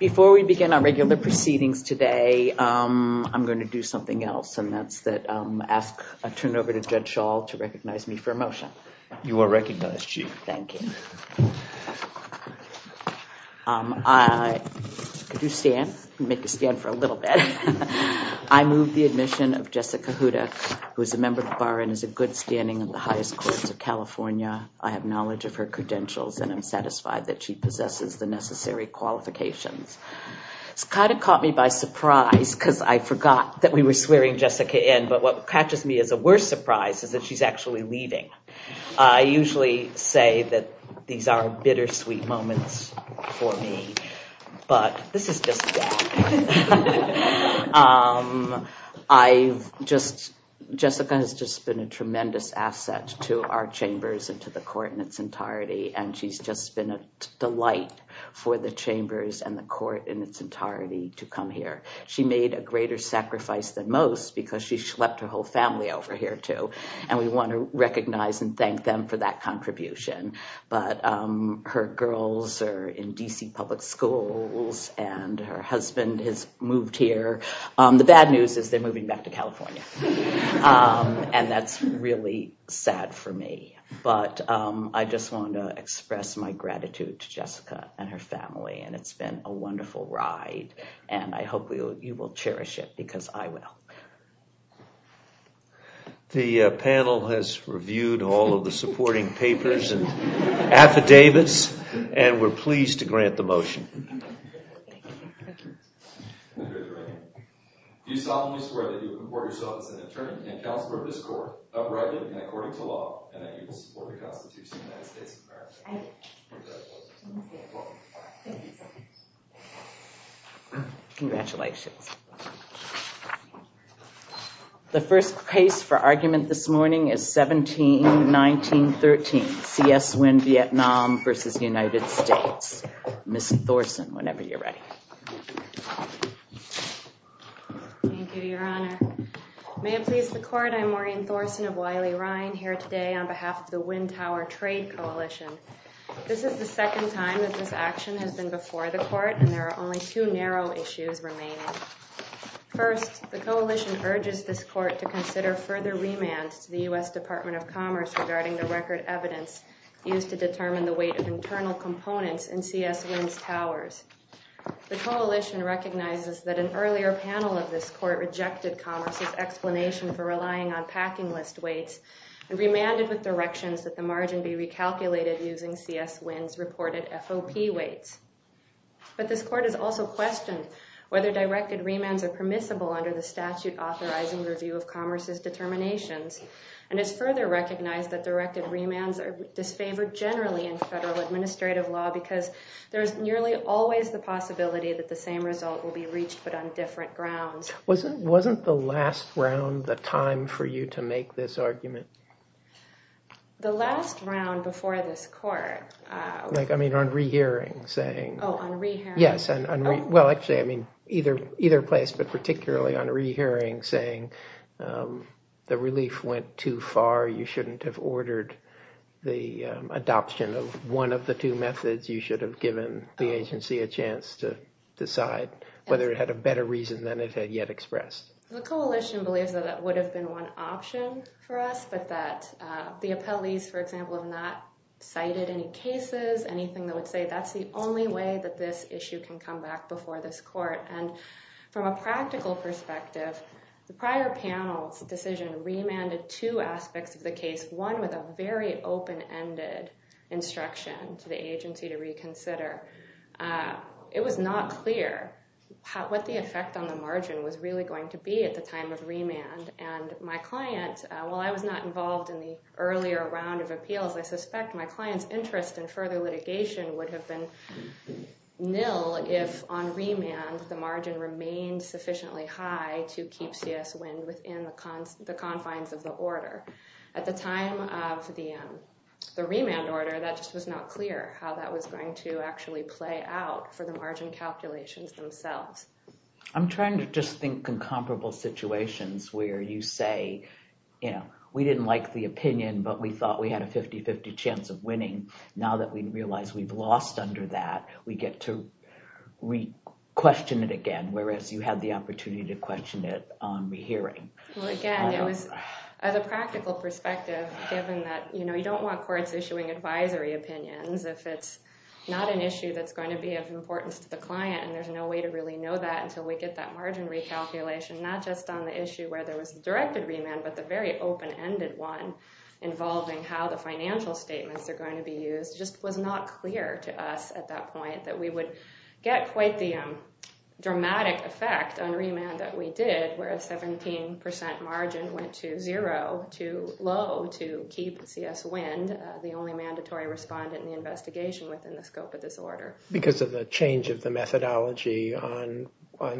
Before we begin our regular proceedings today, I'm going to do something else and that's that I turn over to Judge Schall to recognize me for a motion. You are recognized Chief. Thank you. Could you stand? Make you stand for a little bit. I move the admission of Jessica Hudak, who is a member of the Bar and is a good standing in the highest courts of California. I have knowledge of her credentials and I'm satisfied that she possesses the necessary qualifications. It's kind of caught me by surprise because I forgot that we were swearing Jessica in, but what catches me as a worse surprise is that she's actually leaving. I usually say that these are bittersweet moments for me, but this is just that. I just Jessica has just been a tremendous asset to our chambers and to the court in its entirety. And she's just been a delight for the chambers and the court in its entirety to come here. She made a greater sacrifice than most because she swept her whole family over here, too. And we want to recognize and thank them for that contribution. But her girls are in D.C. public schools and her husband has moved here. The bad news is they're moving back to California. And that's really sad for me. But I just want to express my gratitude to Jessica and her family. And it's been a wonderful ride and I hope you will cherish it because I will. The panel has reviewed all of the supporting papers and affidavits and we're pleased to grant the motion. Thank you. You solemnly swear that you will comport yourself as an attorney and counselor of this court, uprightly and according to law, and that you will support the Constitution of the United States of America. I do. Congratulations. The first case for argument this morning is 17-19-13. C.S. Nguyen, Vietnam v. United States. Ms. Thorsen, whenever you're ready. Thank you, Your Honor. May it please the court, I'm Maureen Thorsen of Wiley Ryan here today on behalf of the Nguyen Tower Trade Coalition. This is the second time that this action has been before the court and there are only two narrow issues remaining. First, the coalition urges this court to consider further remands to the U.S. Department of Commerce regarding the record evidence used to determine the weight of internal components in C.S. Nguyen's towers. The coalition recognizes that an earlier panel of this court rejected Commerce's explanation for relying on packing list weights and remanded with directions that the margin be recalculated using C.S. Nguyen's reported FOP weights. But this court has also questioned whether directed remands are permissible under the statute authorizing review of Commerce's determinations and has further recognized that directed remands are disfavored generally in federal administrative law because there is nearly always the possibility that the same result will be reached but on different grounds. Wasn't the last round the time for you to make this argument? The last round before this court... Like, I mean, on rehearing, saying... Oh, on rehearing. Yes, well, actually, I mean, either place, but particularly on rehearing, saying the relief went too far, you shouldn't have ordered the adoption of one of the two methods, you should have given the agency a chance to decide whether it had a better reason than it had yet expressed. The coalition believes that that would have been one option for us, but that the appellees, for example, have not cited any cases, anything that would say that's the only way that this issue can come back before this court. And from a practical perspective, the prior panel's decision remanded two aspects of the case, one with a very open-ended instruction to the agency to reconsider. It was not clear what the effect on the margin was really going to be at the time of remand, and my client, while I was not involved in the earlier round of appeals, I suspect my client's interest in further litigation would have been nil if on remand the margin remained sufficiently high to keep CS Wind within the confines of the order. At the time of the remand order, that just was not clear how that was going to actually play out for the margin calculations themselves. I'm trying to just think of comparable situations where you say, we didn't like the opinion, but we thought we had a 50-50 chance of winning. Now that we realize we've lost under that, we get to question it again, whereas you had the opportunity to question it on rehearing. Again, it was, as a practical perspective, given that you don't want courts issuing advisory opinions if it's not an issue that's going to be of importance to the client, and there's no way to really know that until we get that margin recalculation, not just on the issue where there was a directed remand, but the very open-ended one involving how the financial statements are going to be used, just was not clear to us at that point that we would get quite the dramatic effect on remand that we did, where a 17% margin went to zero, too low to keep CS Wind, the only mandatory respondent in the investigation within the scope of this order. Because of the change of the methodology on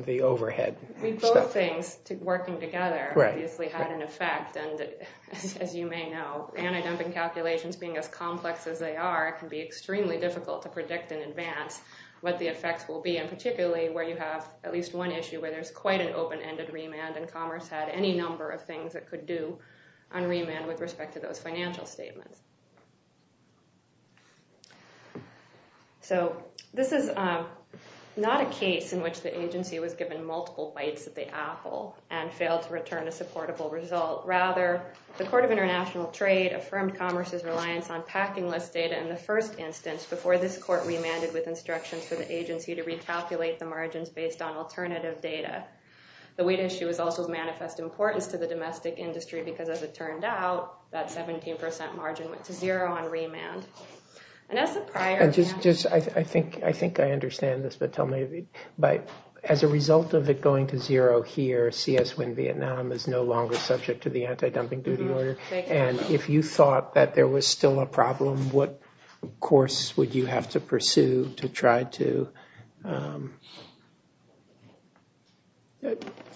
the overhead. Both things, working together, obviously had an effect. As you may know, antidumping calculations, being as complex as they are, can be extremely difficult to predict in advance what the effects will be, and particularly where you have at least one issue where there's quite an open-ended remand and Commerce had any number of things it could do on remand with respect to those financial statements. So, this is not a case in which the agency was given multiple bites at the apple and failed to return a supportable result. Rather, the Court of International Trade affirmed Commerce's reliance on packing list data in the first instance before this court remanded with instructions for the agency to recalculate the margins based on alternative data. The weight issue is also of manifest importance to the domestic industry because as it turned out, that 17% margin went to zero on remand. And as a prior... I think I understand this, but tell me, as a result of it going to zero here, CS Wind Vietnam is no longer subject to the antidumping duty order. And if you thought that there was still a problem, what course would you have to pursue to try to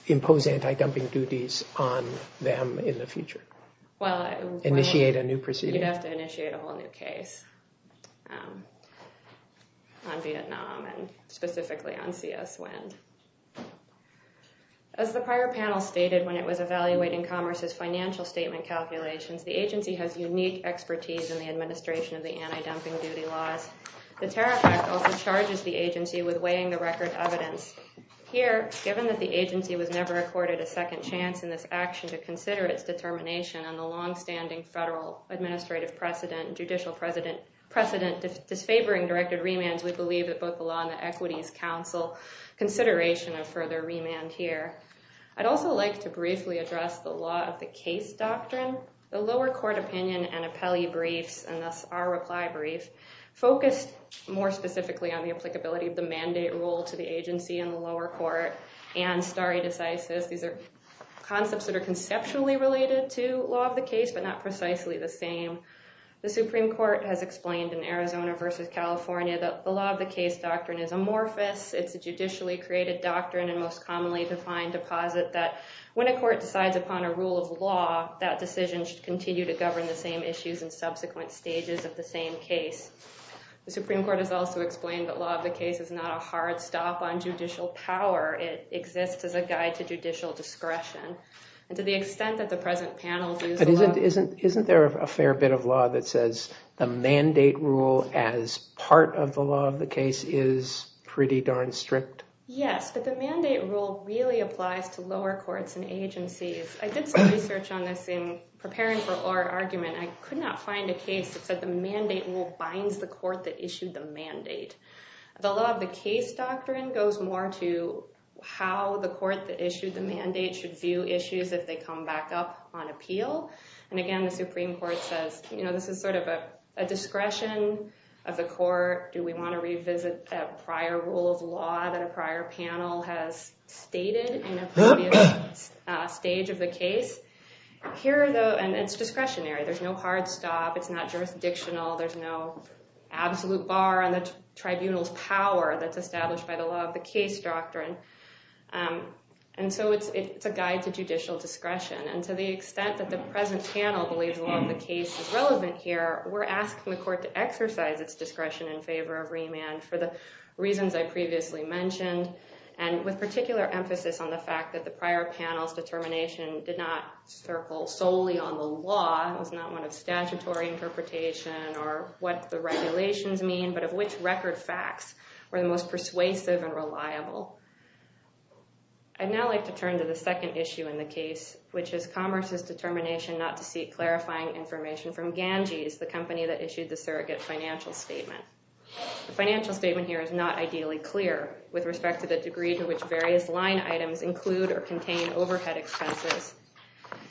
impose antidumping duties on them in the future? Well, I... Initiate a new proceeding. You'd have to initiate a whole new case on Vietnam and specifically on CS Wind. As the prior panel stated when it was evaluating Commerce's financial statement calculations, the agency has unique expertise in the administration of the antidumping duty laws. The Tariff Act also charges the agency with weighing the record evidence. Here, given that the agency was never accorded a second chance in this action to consider its determination on the longstanding federal administrative precedent, judicial precedent disfavoring directed remands, we believe that both the Law and the Equities Council consideration of further remand here. I'd also like to briefly address the law of the case doctrine. The lower court opinion and appellee briefs, and thus our reply brief, focused more specifically on the applicability of the mandate rule to the agency in the lower court and stare decisis. These are concepts that are conceptually related to law of the case, but not precisely the same. The Supreme Court has explained in Arizona versus California that the law of the case doctrine is amorphous. It's a judicially created doctrine and most commonly defined deposit that when a court decides upon a rule of law, that decision should continue to govern the same issues in subsequent stages of the same case. The Supreme Court has also explained that law of the case is not a hard stop on judicial power. It exists as a guide to judicial discretion. And to the extent that the present panel views the law... Isn't there a fair bit of law that says the mandate rule as part of the law of the case is pretty darn strict? Yes, but the mandate rule really applies to lower courts and agencies. I did some research on this in preparing for our argument. I could not find a case that said the mandate rule binds the court that issued the mandate. The law of the case doctrine goes more to how the court that issued the mandate should view issues if they come back up on appeal. And again, the Supreme Court says, you know, this is sort of a discretion of the court. Do we want to revisit a prior rule of law that a prior panel has stated in a stage of the case? Here, though, and it's discretionary. There's no hard stop. It's not jurisdictional. There's no absolute bar on the tribunal's power that's established by the law of the case doctrine. And so it's a guide to judicial discretion. And to the extent that the present panel believes the law of the case is relevant here, we're asking the court to exercise its discretion in favor of remand for the reasons I previously mentioned, and with particular emphasis on the fact that the prior panel's determination did not circle solely on the law. It was not one of statutory interpretation or what the regulations mean, but of which record facts were the most persuasive and reliable. I'd now like to turn to the second issue in the case, which is Commerce's determination not to seek clarifying information from Ganges, the company that issued the surrogate financial statement. The financial statement here is not ideally clear with respect to the degree to which various line items include or contain overhead expenses.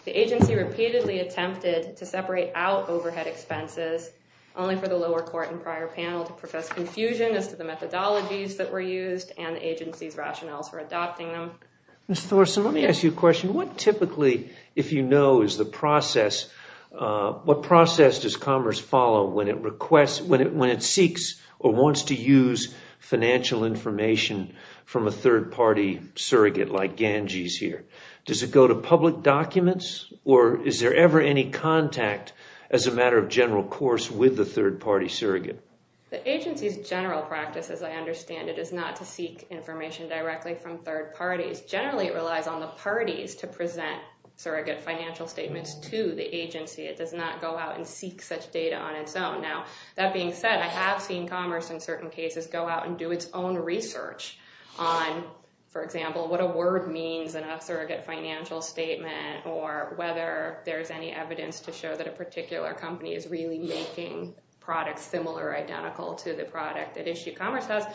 The agency repeatedly attempted to separate out overhead expenses, only for the lower court and prior panel to profess confusion as to the methodologies that were used and the agency's rationales for adopting them. Mr. Thorson, let me ask you a question. What typically, if you know, is the process, what process does Commerce follow when it requests, when it seeks or wants to use financial information from a third-party surrogate like Ganges here? Does it go to public documents or is there ever any contact as a matter of general course with the third-party surrogate? The agency's general practice, as I understand it, is not to seek information directly from third parties. Generally, it relies on the parties to present surrogate financial statements to the agency. It does not go out and seek such data on its own. Now, that being said, I have seen Commerce in certain cases go out and do its own research on, for example, what a word means in a surrogate financial statement or whether there's any evidence to show that a particular company is really making products similar or identical to the product at issue. Commerce has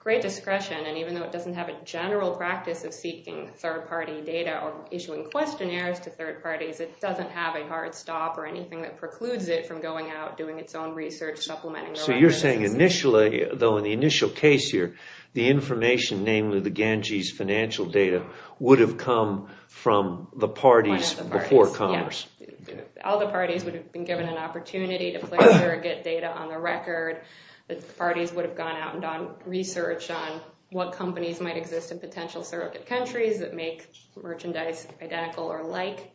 great discretion, and even though it doesn't have a general practice of seeking third-party data or issuing questionnaires to third parties, it doesn't have a hard stop or anything that precludes it from going out, doing its own research, supplementing their practices. So you're saying initially, though in the initial case here, the information, namely the Gange's financial data, would have come from the parties before Commerce? One of the parties, yes. All the parties would have been given an opportunity to place surrogate data on the record. The parties would have gone out and done research on what companies might exist in potential surrogate countries that make merchandise identical or like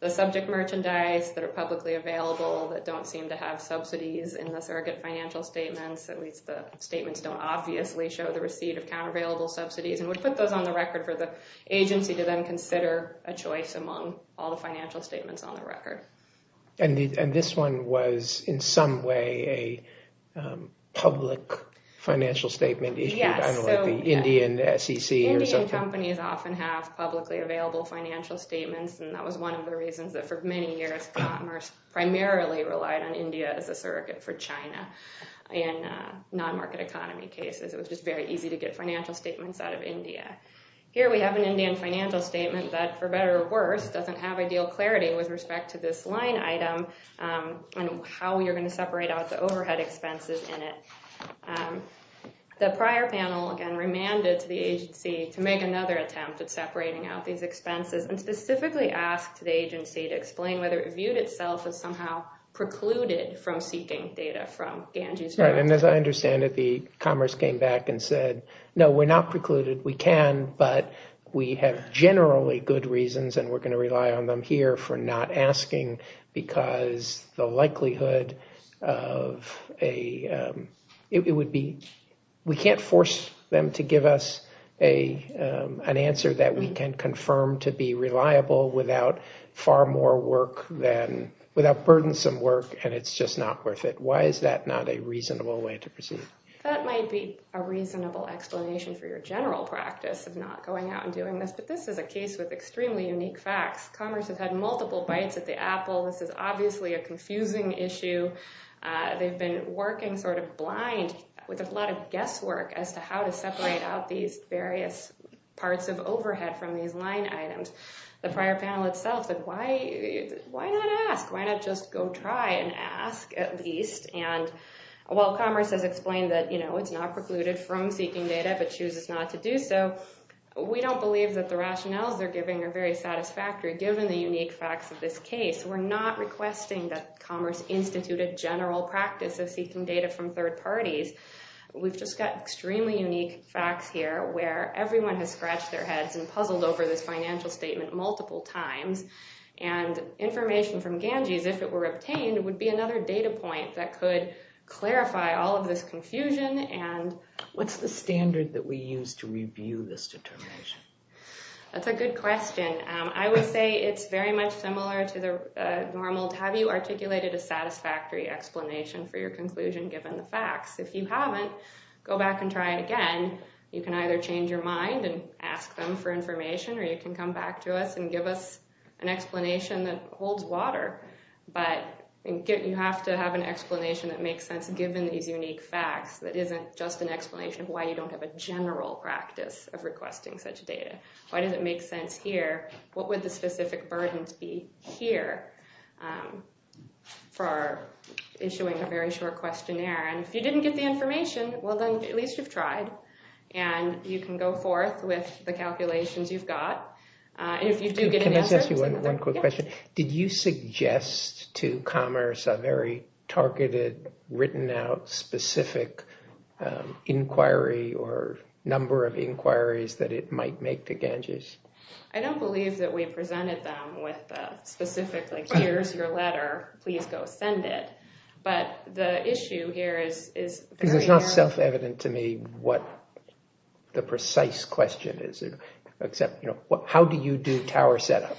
the subject merchandise that are publicly available that don't seem to have subsidies in the surrogate financial statements, at least the statements don't obviously show the receipt of countervailable subsidies, and would put those on the record for the agency to then consider a choice among all the financial statements on the record. And this one was in some way a public financial statement issued? Yes. I don't know, like the Indian SEC or something? Indian companies often have publicly available financial statements, and that was one of the reasons that for many years Commerce primarily relied on India as a surrogate for China in non-market economy cases. It was just very easy to get financial statements out of India. Here we have an Indian financial statement that, for better or worse, doesn't have ideal clarity with respect to this line item and how you're going to separate out the overhead expenses in it. The prior panel, again, remanded to the agency to make another attempt at separating out these expenses, and specifically asked the agency to explain whether it viewed itself as somehow precluded from seeking data from Ganges. Right. And as I understand it, Commerce came back and said, no, we're not precluded. We can, but we have generally good reasons, and we're going to rely on them here for not asking because the likelihood of a – without far more work than – without burdensome work, and it's just not worth it. Why is that not a reasonable way to proceed? That might be a reasonable explanation for your general practice of not going out and doing this, but this is a case with extremely unique facts. Commerce has had multiple bites at the apple. This is obviously a confusing issue. They've been working sort of blind with a lot of guesswork as to how to separate out these various parts of overhead from these line items. The prior panel itself said, why not ask? Why not just go try and ask at least? And while Commerce has explained that it's not precluded from seeking data but chooses not to do so, we don't believe that the rationales they're giving are very satisfactory given the unique facts of this case. We're not requesting that Commerce institute a general practice of seeking data from third parties. We've just got extremely unique facts here where everyone has scratched their heads and puzzled over this financial statement multiple times, and information from Ganges, if it were obtained, would be another data point that could clarify all of this confusion and – What's the standard that we use to review this determination? That's a good question. I would say it's very much similar to the normal, have you articulated a satisfactory explanation for your conclusion given the facts? If you haven't, go back and try it again. You can either change your mind and ask them for information, or you can come back to us and give us an explanation that holds water. But you have to have an explanation that makes sense given these unique facts, that isn't just an explanation of why you don't have a general practice of requesting such data. Why does it make sense here? What would the specific burdens be here for issuing a very short questionnaire? And if you didn't get the information, well then, at least you've tried, and you can go forth with the calculations you've got. And if you do get an answer – Can I just ask you one quick question? Did you suggest to Commerce a very targeted, written-out, specific inquiry or number of inquiries that it might make to Ganges? I don't believe that we presented them with a specific, like, here's your letter, please go send it. But the issue here is – Because it's not self-evident to me what the precise question is. Except, you know, how do you do tower setup?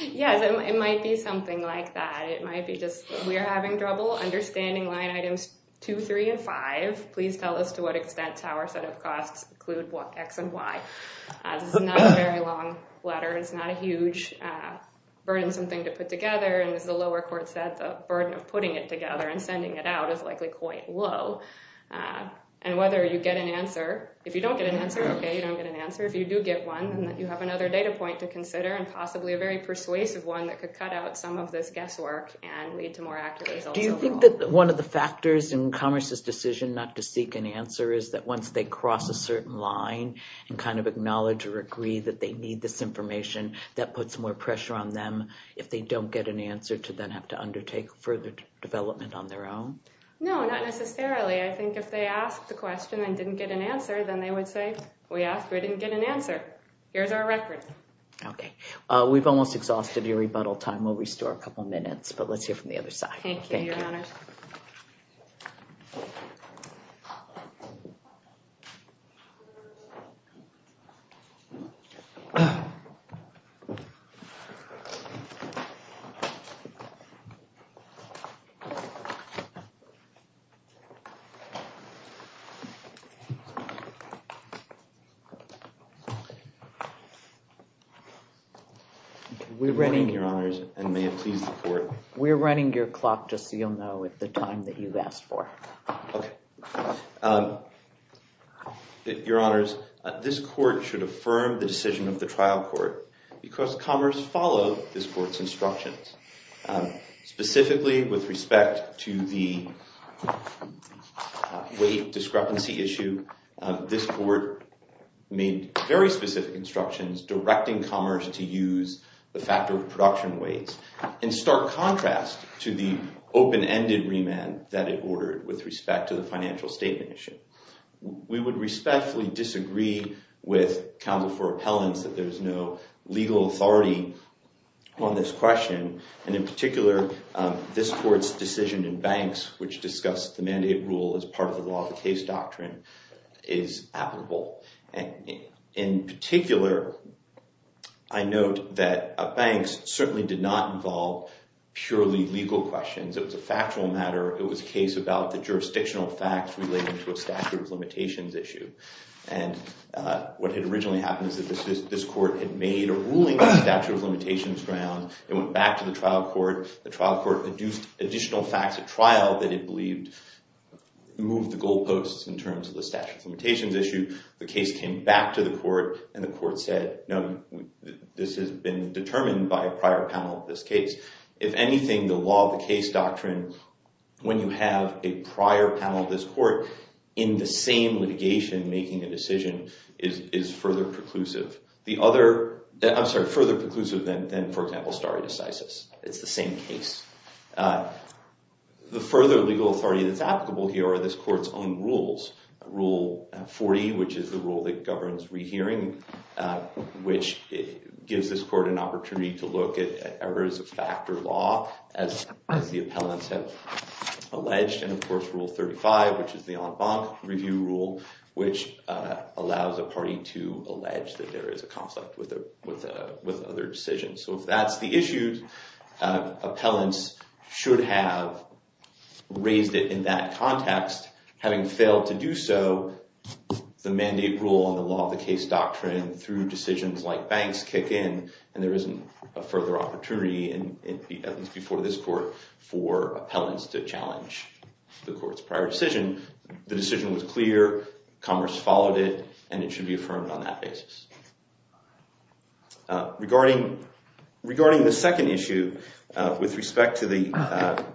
Yes, it might be something like that. It might be just, we're having trouble understanding line items 2, 3, and 5. Please tell us to what extent tower setup costs include x and y. This is not a very long letter. It's not a huge, burdensome thing to put together. And as the lower court said, the burden of putting it together and sending it out is likely quite low. And whether you get an answer – If you don't get an answer, okay, you don't get an answer. If you do get one, then you have another data point to consider. And possibly a very persuasive one that could cut out some of this guesswork and lead to more accurate results overall. Do you think that one of the factors in Commerce's decision not to seek an answer is that once they cross a certain line and kind of acknowledge or agree that they need this information, that puts more pressure on them, if they don't get an answer, to then have to undertake further development on their own? No, not necessarily. I think if they asked the question and didn't get an answer, then they would say, we asked, we didn't get an answer. Here's our record. Okay. We've almost exhausted your rebuttal time. We'll restore a couple of minutes, but let's hear from the other side. Thank you, Your Honors. We're running your clock, just so you'll know, at the time that you've asked for. Okay. Your Honors, this court should affirm the decision of the trial court because Commerce followed this court's instructions, specifically with respect to the weight discrepancy issue. This court made very specific instructions directing Commerce to use the factor of production weights in stark contrast to the open-ended remand that it ordered with respect to the financial statement issue. We would respectfully disagree with counsel for appellants that there's no legal authority on this question. And in particular, this court's decision in Banks, which discussed the mandate rule as part of the law of the case doctrine, is applicable. In particular, I note that Banks certainly did not involve purely legal questions. It was a factual matter. It was a case about the jurisdictional facts relating to a statute of limitations issue. And what had originally happened is that this court had made a ruling on the statute of limitations ground. It went back to the trial court. The trial court adduced additional facts at trial that it believed moved the goal posts in terms of the statute of limitations issue. The case came back to the court, and the court said, no, this has been determined by a prior panel of this case. If anything, the law of the case doctrine, when you have a prior panel of this court in the same litigation making a decision, is further preclusive. I'm sorry, further preclusive than, for example, stare decisis. It's the same case. The further legal authority that's applicable here are this court's own rules. Rule 40, which is the rule that governs rehearing, which gives this court an opportunity to look at errors of factor law, as the appellants have alleged. And, of course, Rule 35, which is the en banc review rule, which allows a party to allege that there is a conflict with other decisions. So if that's the issue, appellants should have raised it in that context. Having failed to do so, the mandate rule and the law of the case doctrine, through decisions like banks, kick in. And there isn't a further opportunity, at least before this court, for appellants to challenge the court's prior decision. The decision was clear. Commerce followed it. And it should be affirmed on that basis. Regarding the second issue, with respect to the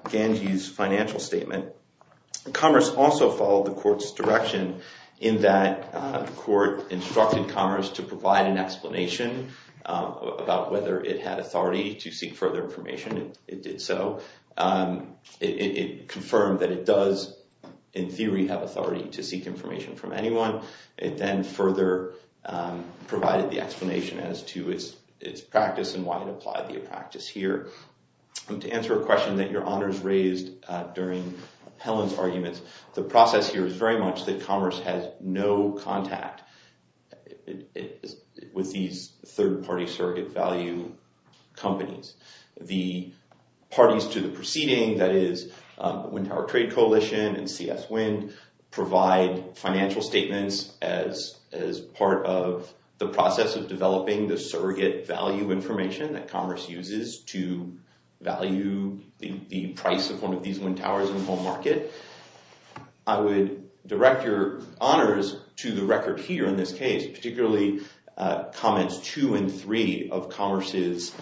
Ganji's financial statement, Commerce also followed the court's direction in that the court instructed Commerce to provide an explanation about whether it had authority to seek further information. It did so. It confirmed that it does, in theory, have authority to seek information from anyone. It then further provided the explanation as to its practice and why it applied the practice here. To answer a question that your honors raised during Helen's arguments, the process here is very much that Commerce has no contact with these third-party surrogate value companies. The parties to the proceeding, that is, the Wind Tower Trade Coalition and CS Wind, provide financial statements as part of the process of developing the surrogate value information that Commerce uses to value the price of one of these wind towers in the home market. I would direct your honors to the record here in this case, particularly comments two and three of Commerce's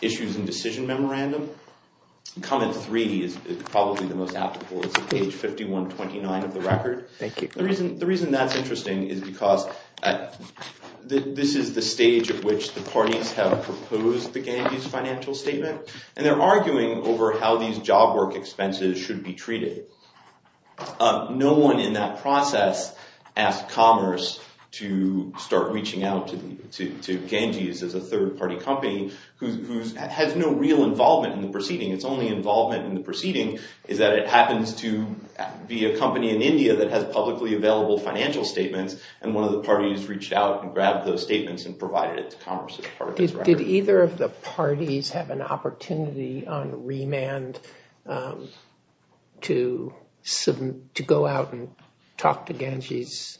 issues and decision memorandum. Comment three is probably the most applicable. It's page 5129 of the record. The reason that's interesting is because this is the stage at which the parties have proposed the Ganji's financial statement. They're arguing over how these job work expenses should be treated. No one in that process asked Commerce to start reaching out to Ganji's as a third-party company who has no real involvement in the proceeding. Its only involvement in the proceeding is that it happens to be a company in India that has publicly available financial statements. One of the parties reached out and grabbed those statements and provided it to Commerce as part of this record. Did either of the parties have an opportunity on remand to go out and talk to Ganji's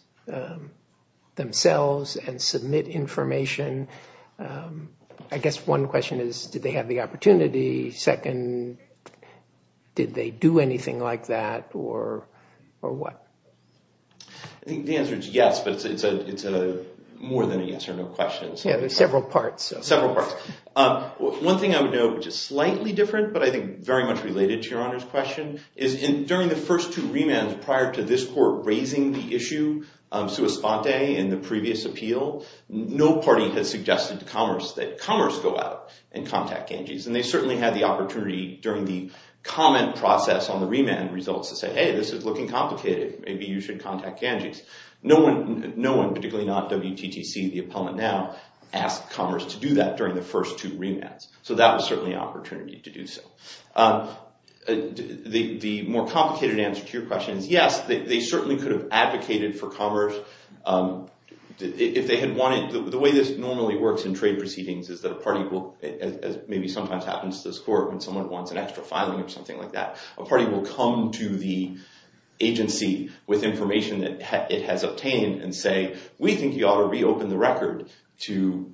themselves and submit information? I guess one question is, did they have the opportunity? Second, did they do anything like that or what? I think the answer is yes, but it's more than an answer, no questions. There are several parts. One thing I would note, which is slightly different, but I think very much related to your Honor's question, is during the first two remands prior to this Court raising the issue of sua sponte in the previous appeal, no party has suggested to Commerce that Commerce go out and contact Ganji's. They certainly had the opportunity during the comment process on the remand results to say, hey, this is looking complicated, maybe you should contact Ganji's. No one, particularly not WTTC, the appellant now, asked Commerce to do that during the first two remands. So that was certainly an opportunity to do so. The more complicated answer to your question is yes, they certainly could have advocated for Commerce. The way this normally works in trade proceedings is that a party will, as maybe sometimes happens to this Court when someone wants an extra filing or something like that, a party will come to the agency with information that it has obtained and say, we think you ought to reopen the record to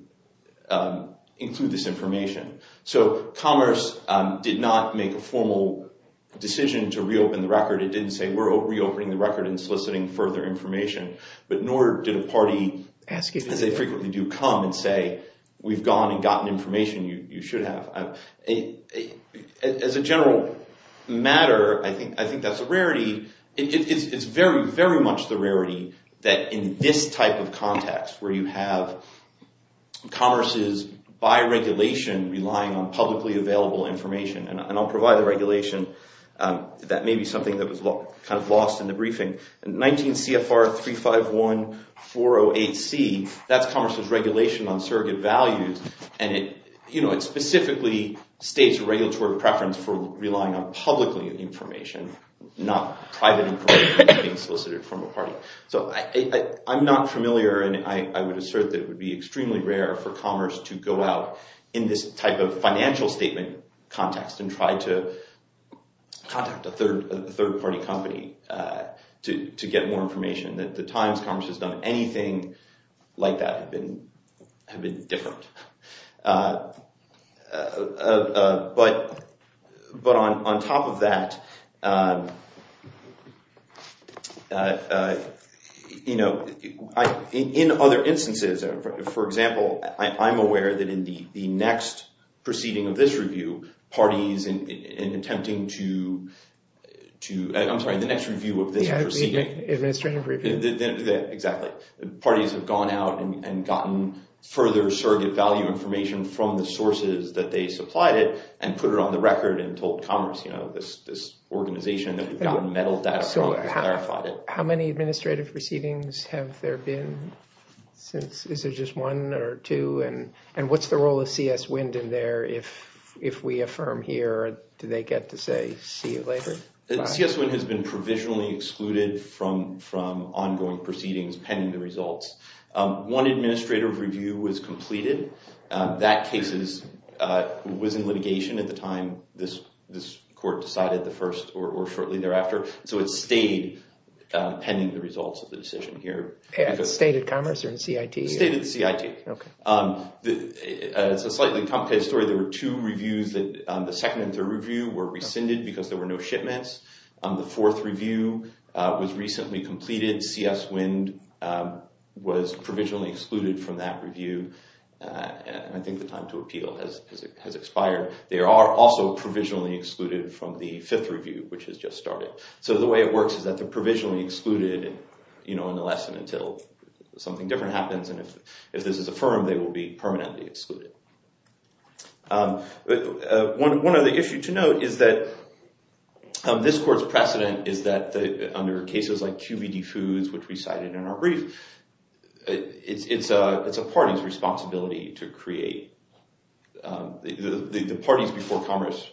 include this information. So Commerce did not make a formal decision to reopen the record. It didn't say we're reopening the record and soliciting further information, but nor did a party, as they frequently do, come and say, we've gone and gotten information you should have. As a general matter, I think that's a rarity. It's very, very much the rarity that in this type of context, where you have Commerce's by regulation relying on publicly available information, and I'll provide the regulation. That may be something that was kind of lost in the briefing. 19 CFR 351-408C, that's Commerce's regulation on surrogate values, and it specifically states a regulatory preference for relying on publicly information, not private information being solicited from a party. So I'm not familiar, and I would assert that it would be extremely rare for Commerce to go out in this type of financial statement context and try to contact a third-party company to get more information. The times Commerce has done anything like that have been different. But on top of that, in other instances, for example, I'm aware that in the next proceeding of this review, parties have gone out and gotten further surrogate value information from the sources that they supplied it and put it on the record and told Commerce, this organization that we've gotten metal data from has verified it. How many administrative proceedings have there been since? Is there just one or two? And what's the role of CS Wind in there? If we affirm here, do they get to say, see you later? CS Wind has been provisionally excluded from ongoing proceedings pending the results. One administrative review was completed. That case was in litigation at the time this court decided the first or shortly thereafter. So it stayed pending the results of the decision here. At State and Commerce or in CIT? State and CIT. It's a slightly complicated story. There were two reviews. The second and third review were rescinded because there were no shipments. The fourth review was recently completed. CS Wind was provisionally excluded from that review. I think the time to appeal has expired. They are also provisionally excluded from the fifth review, which has just started. So the way it works is that they're provisionally excluded in the lesson until something different happens. And if this is affirmed, they will be permanently excluded. One other issue to note is that this court's precedent is that under cases like QBD Foods, which we cited in our brief, it's a party's responsibility to create. The parties before Commerce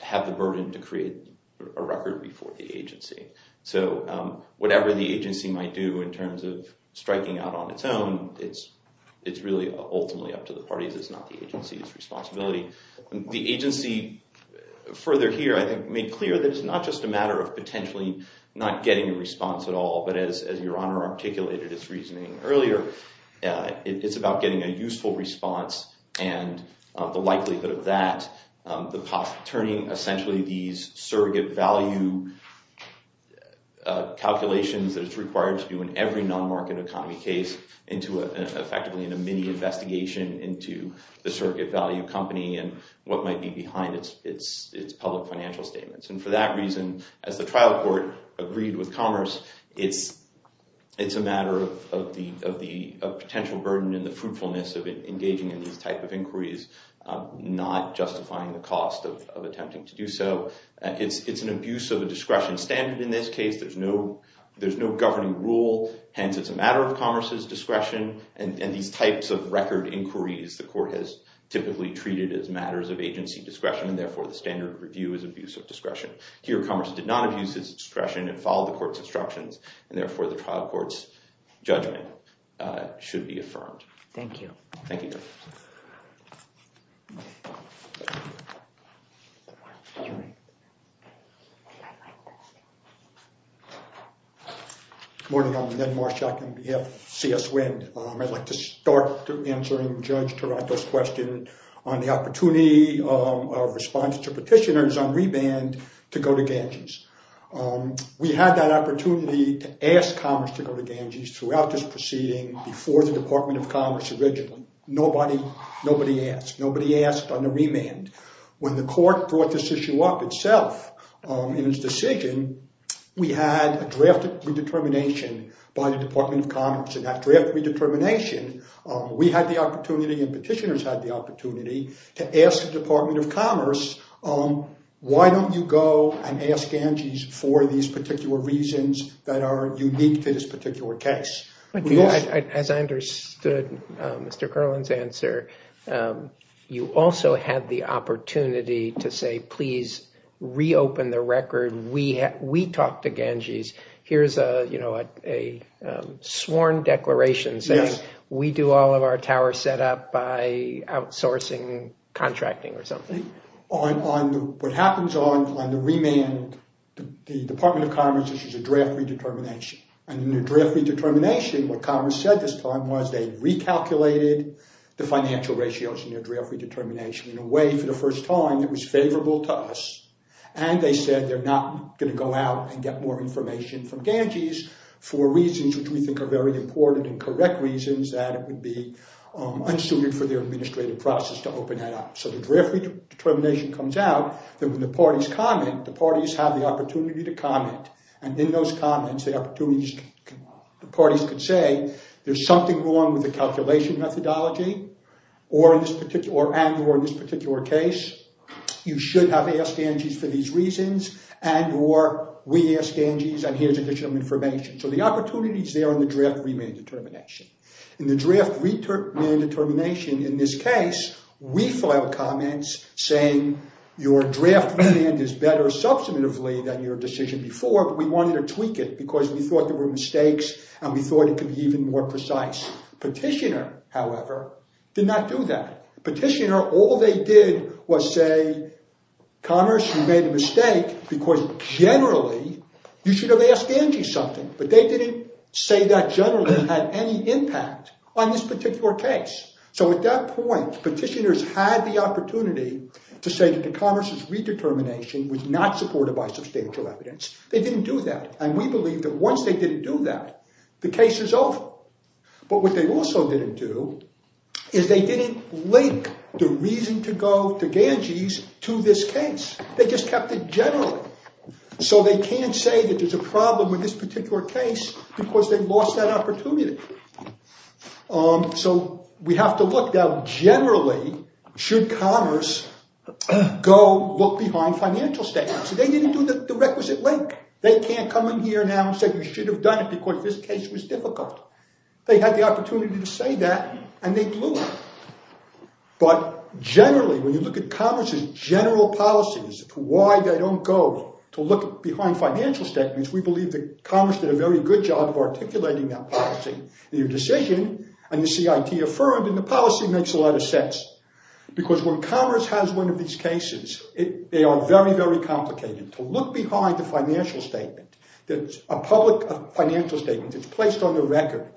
have the burden to create a record before the agency. So whatever the agency might do in terms of striking out on its own, it's really ultimately up to the parties. It's not the agency's responsibility. The agency further here, I think, made clear that it's not just a matter of potentially not getting a response at all. But as Your Honor articulated its reasoning earlier, it's about getting a useful response and the likelihood of that. Turning essentially these surrogate value calculations that it's required to do in every non-market economy case into effectively a mini-investigation into the surrogate value company and what might be behind its public financial statements. And for that reason, as the trial court agreed with Commerce, it's a matter of the potential burden and the fruitfulness of engaging in these type of inquiries, not justifying the cost of attempting to do so. It's an abuse of a discretion standard in this case. There's no governing rule. Hence, it's a matter of Commerce's discretion. And these types of record inquiries, the court has typically treated as matters of agency discretion. And therefore, the standard review is abuse of discretion. Here, Commerce did not abuse its discretion and followed the court's instructions. And therefore, the trial court's judgment should be affirmed. Thank you. Thank you. Good morning. I'm Ned Marshak of CS Wind. I'd like to start by answering Judge Taranto's question on the opportunity of response to petitioners on reband to go to Ganges. We had that opportunity to ask Commerce to go to Ganges throughout this proceeding before the Department of Commerce originally. Nobody asked. Nobody asked on the remand. When the court brought this issue up itself in its decision, we had a drafted redetermination by the Department of Commerce. And that draft redetermination, we had the opportunity and petitioners had the opportunity to ask the Department of Commerce, why don't you go and ask Ganges for these particular reasons that are unique to this particular case? As I understood Mr. Curlin's answer, you also had the opportunity to say, please reopen the record. We we talked to Ganges. Here's a, you know, a sworn declaration saying we do all of our tower set up by outsourcing contracting or something. On what happens on the remand, the Department of Commerce issues a draft redetermination. And in the draft redetermination, what Commerce said this time was they recalculated the financial ratios in their draft redetermination. In a way, for the first time, it was favorable to us. And they said they're not going to go out and get more information from Ganges for reasons which we think are very important and correct reasons that it would be unsuited for their administrative process to open that up. So the draft redetermination comes out that when the parties comment, the parties have the opportunity to comment. And in those comments, the parties could say there's something wrong with the calculation methodology or in this particular case, you should have asked Ganges for these reasons and or we asked Ganges and here's additional information. So the opportunity is there in the draft remand determination. In the draft redetermination in this case, we filed comments saying your draft remand is better substantively than your decision before. We wanted to tweak it because we thought there were mistakes and we thought it could be even more precise. Petitioner, however, did not do that. Petitioner, all they did was say Commerce, you made a mistake because generally you should have asked Ganges something. But they didn't say that generally had any impact on this particular case. So at that point, petitioners had the opportunity to say that the Commerce's redetermination was not supported by substantial evidence. They didn't do that. And we believe that once they didn't do that, the case is over. But what they also didn't do is they didn't link the reason to go to Ganges to this case. They just kept it generally. So they can't say that there's a problem with this particular case because they've lost that opportunity. So we have to look down. Generally, should Commerce go look behind financial statements? They didn't do the requisite link. They can't come in here now and say we should have done it because this case was difficult. They had the opportunity to say that and they blew it. But generally, when you look at Commerce's general policies, why they don't go to look behind financial statements, we believe that Commerce did a very good job of articulating that policy. The decision and the CIT affirmed in the policy makes a lot of sense because when Commerce has one of these cases, they are very, very complicated to look behind the financial statement. A public financial statement that's placed on the record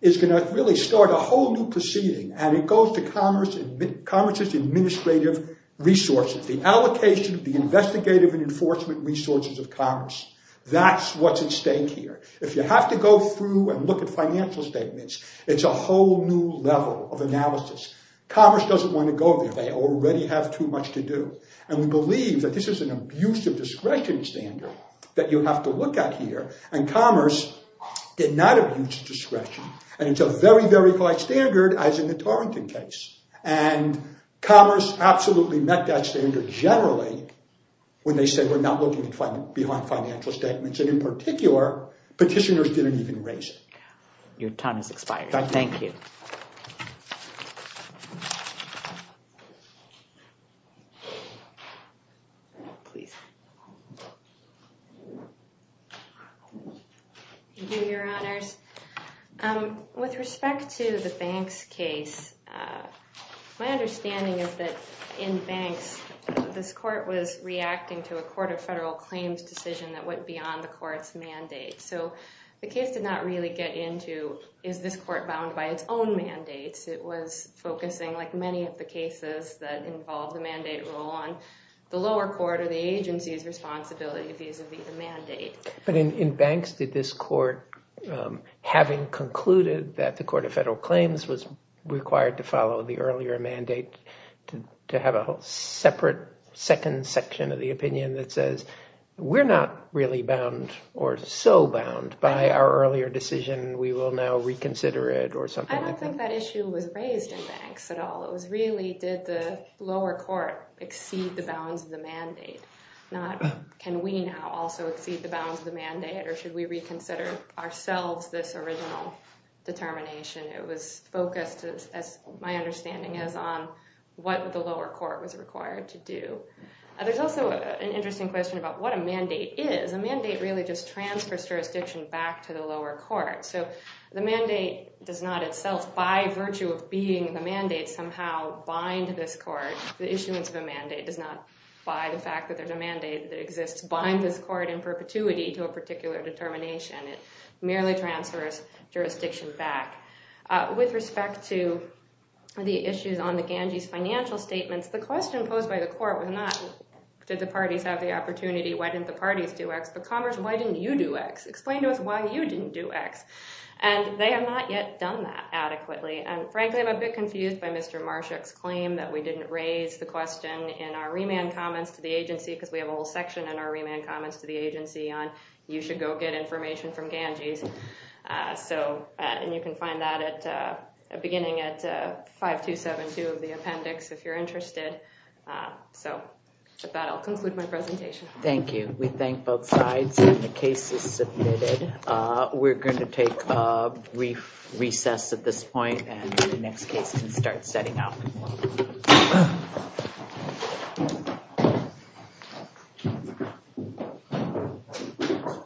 is going to really start a whole new proceeding. And it goes to Commerce's administrative resources, the allocation, the investigative and enforcement resources of Commerce. That's what's at stake here. If you have to go through and look at financial statements, it's a whole new level of analysis. Commerce doesn't want to go there. They already have too much to do. And we believe that this is an abuse of discretion standard that you have to look at here. And Commerce did not abuse discretion. And it's a very, very high standard, as in the Tarrington case. And Commerce absolutely met that standard generally when they said we're not looking behind financial statements. And in particular, petitioners didn't even raise it. Your time has expired. Thank you. Please. Your honors, with respect to the banks case, my understanding is that in banks, this court was reacting to a Court of Federal Claims decision that went beyond the court's mandate. So the case did not really get into, is this court bound by its own mandates? It was focusing, like many of the cases that involve the mandate rule on the lower court or the agency's responsibility vis-a-vis the mandate. But in banks, did this court, having concluded that the Court of Federal Claims was required to follow the earlier mandate, to have a whole separate second section of the opinion that says we're not really bound or so bound by our earlier decision, we will now reconsider it or something like that? I don't think that issue was raised in banks at all. It was really did the lower court exceed the bounds of the mandate? Can we now also exceed the bounds of the mandate or should we reconsider ourselves this original determination? It was focused, as my understanding is, on what the lower court was required to do. There's also an interesting question about what a mandate is. A mandate really just transfers jurisdiction back to the lower court. So the mandate does not itself, by virtue of being the mandate, somehow bind this court. The issuance of a mandate does not, by the fact that there's a mandate that exists, bind this court in perpetuity to a particular determination. It merely transfers jurisdiction back. With respect to the issues on the Ganges financial statements, the question posed by the court was not, did the parties have the opportunity? Why didn't the parties do X? But Commerce, why didn't you do X? Explain to us why you didn't do X. And they have not yet done that adequately. And frankly, I'm a bit confused by Mr. Marshak's claim that we didn't raise the question in our remand comments to the agency, on you should go get information from Ganges. And you can find that beginning at 5272 of the appendix, if you're interested. So with that, I'll conclude my presentation. Thank you. We thank both sides. The case is submitted. We're going to take a brief recess at this point, and the next case can start setting out. Thank you.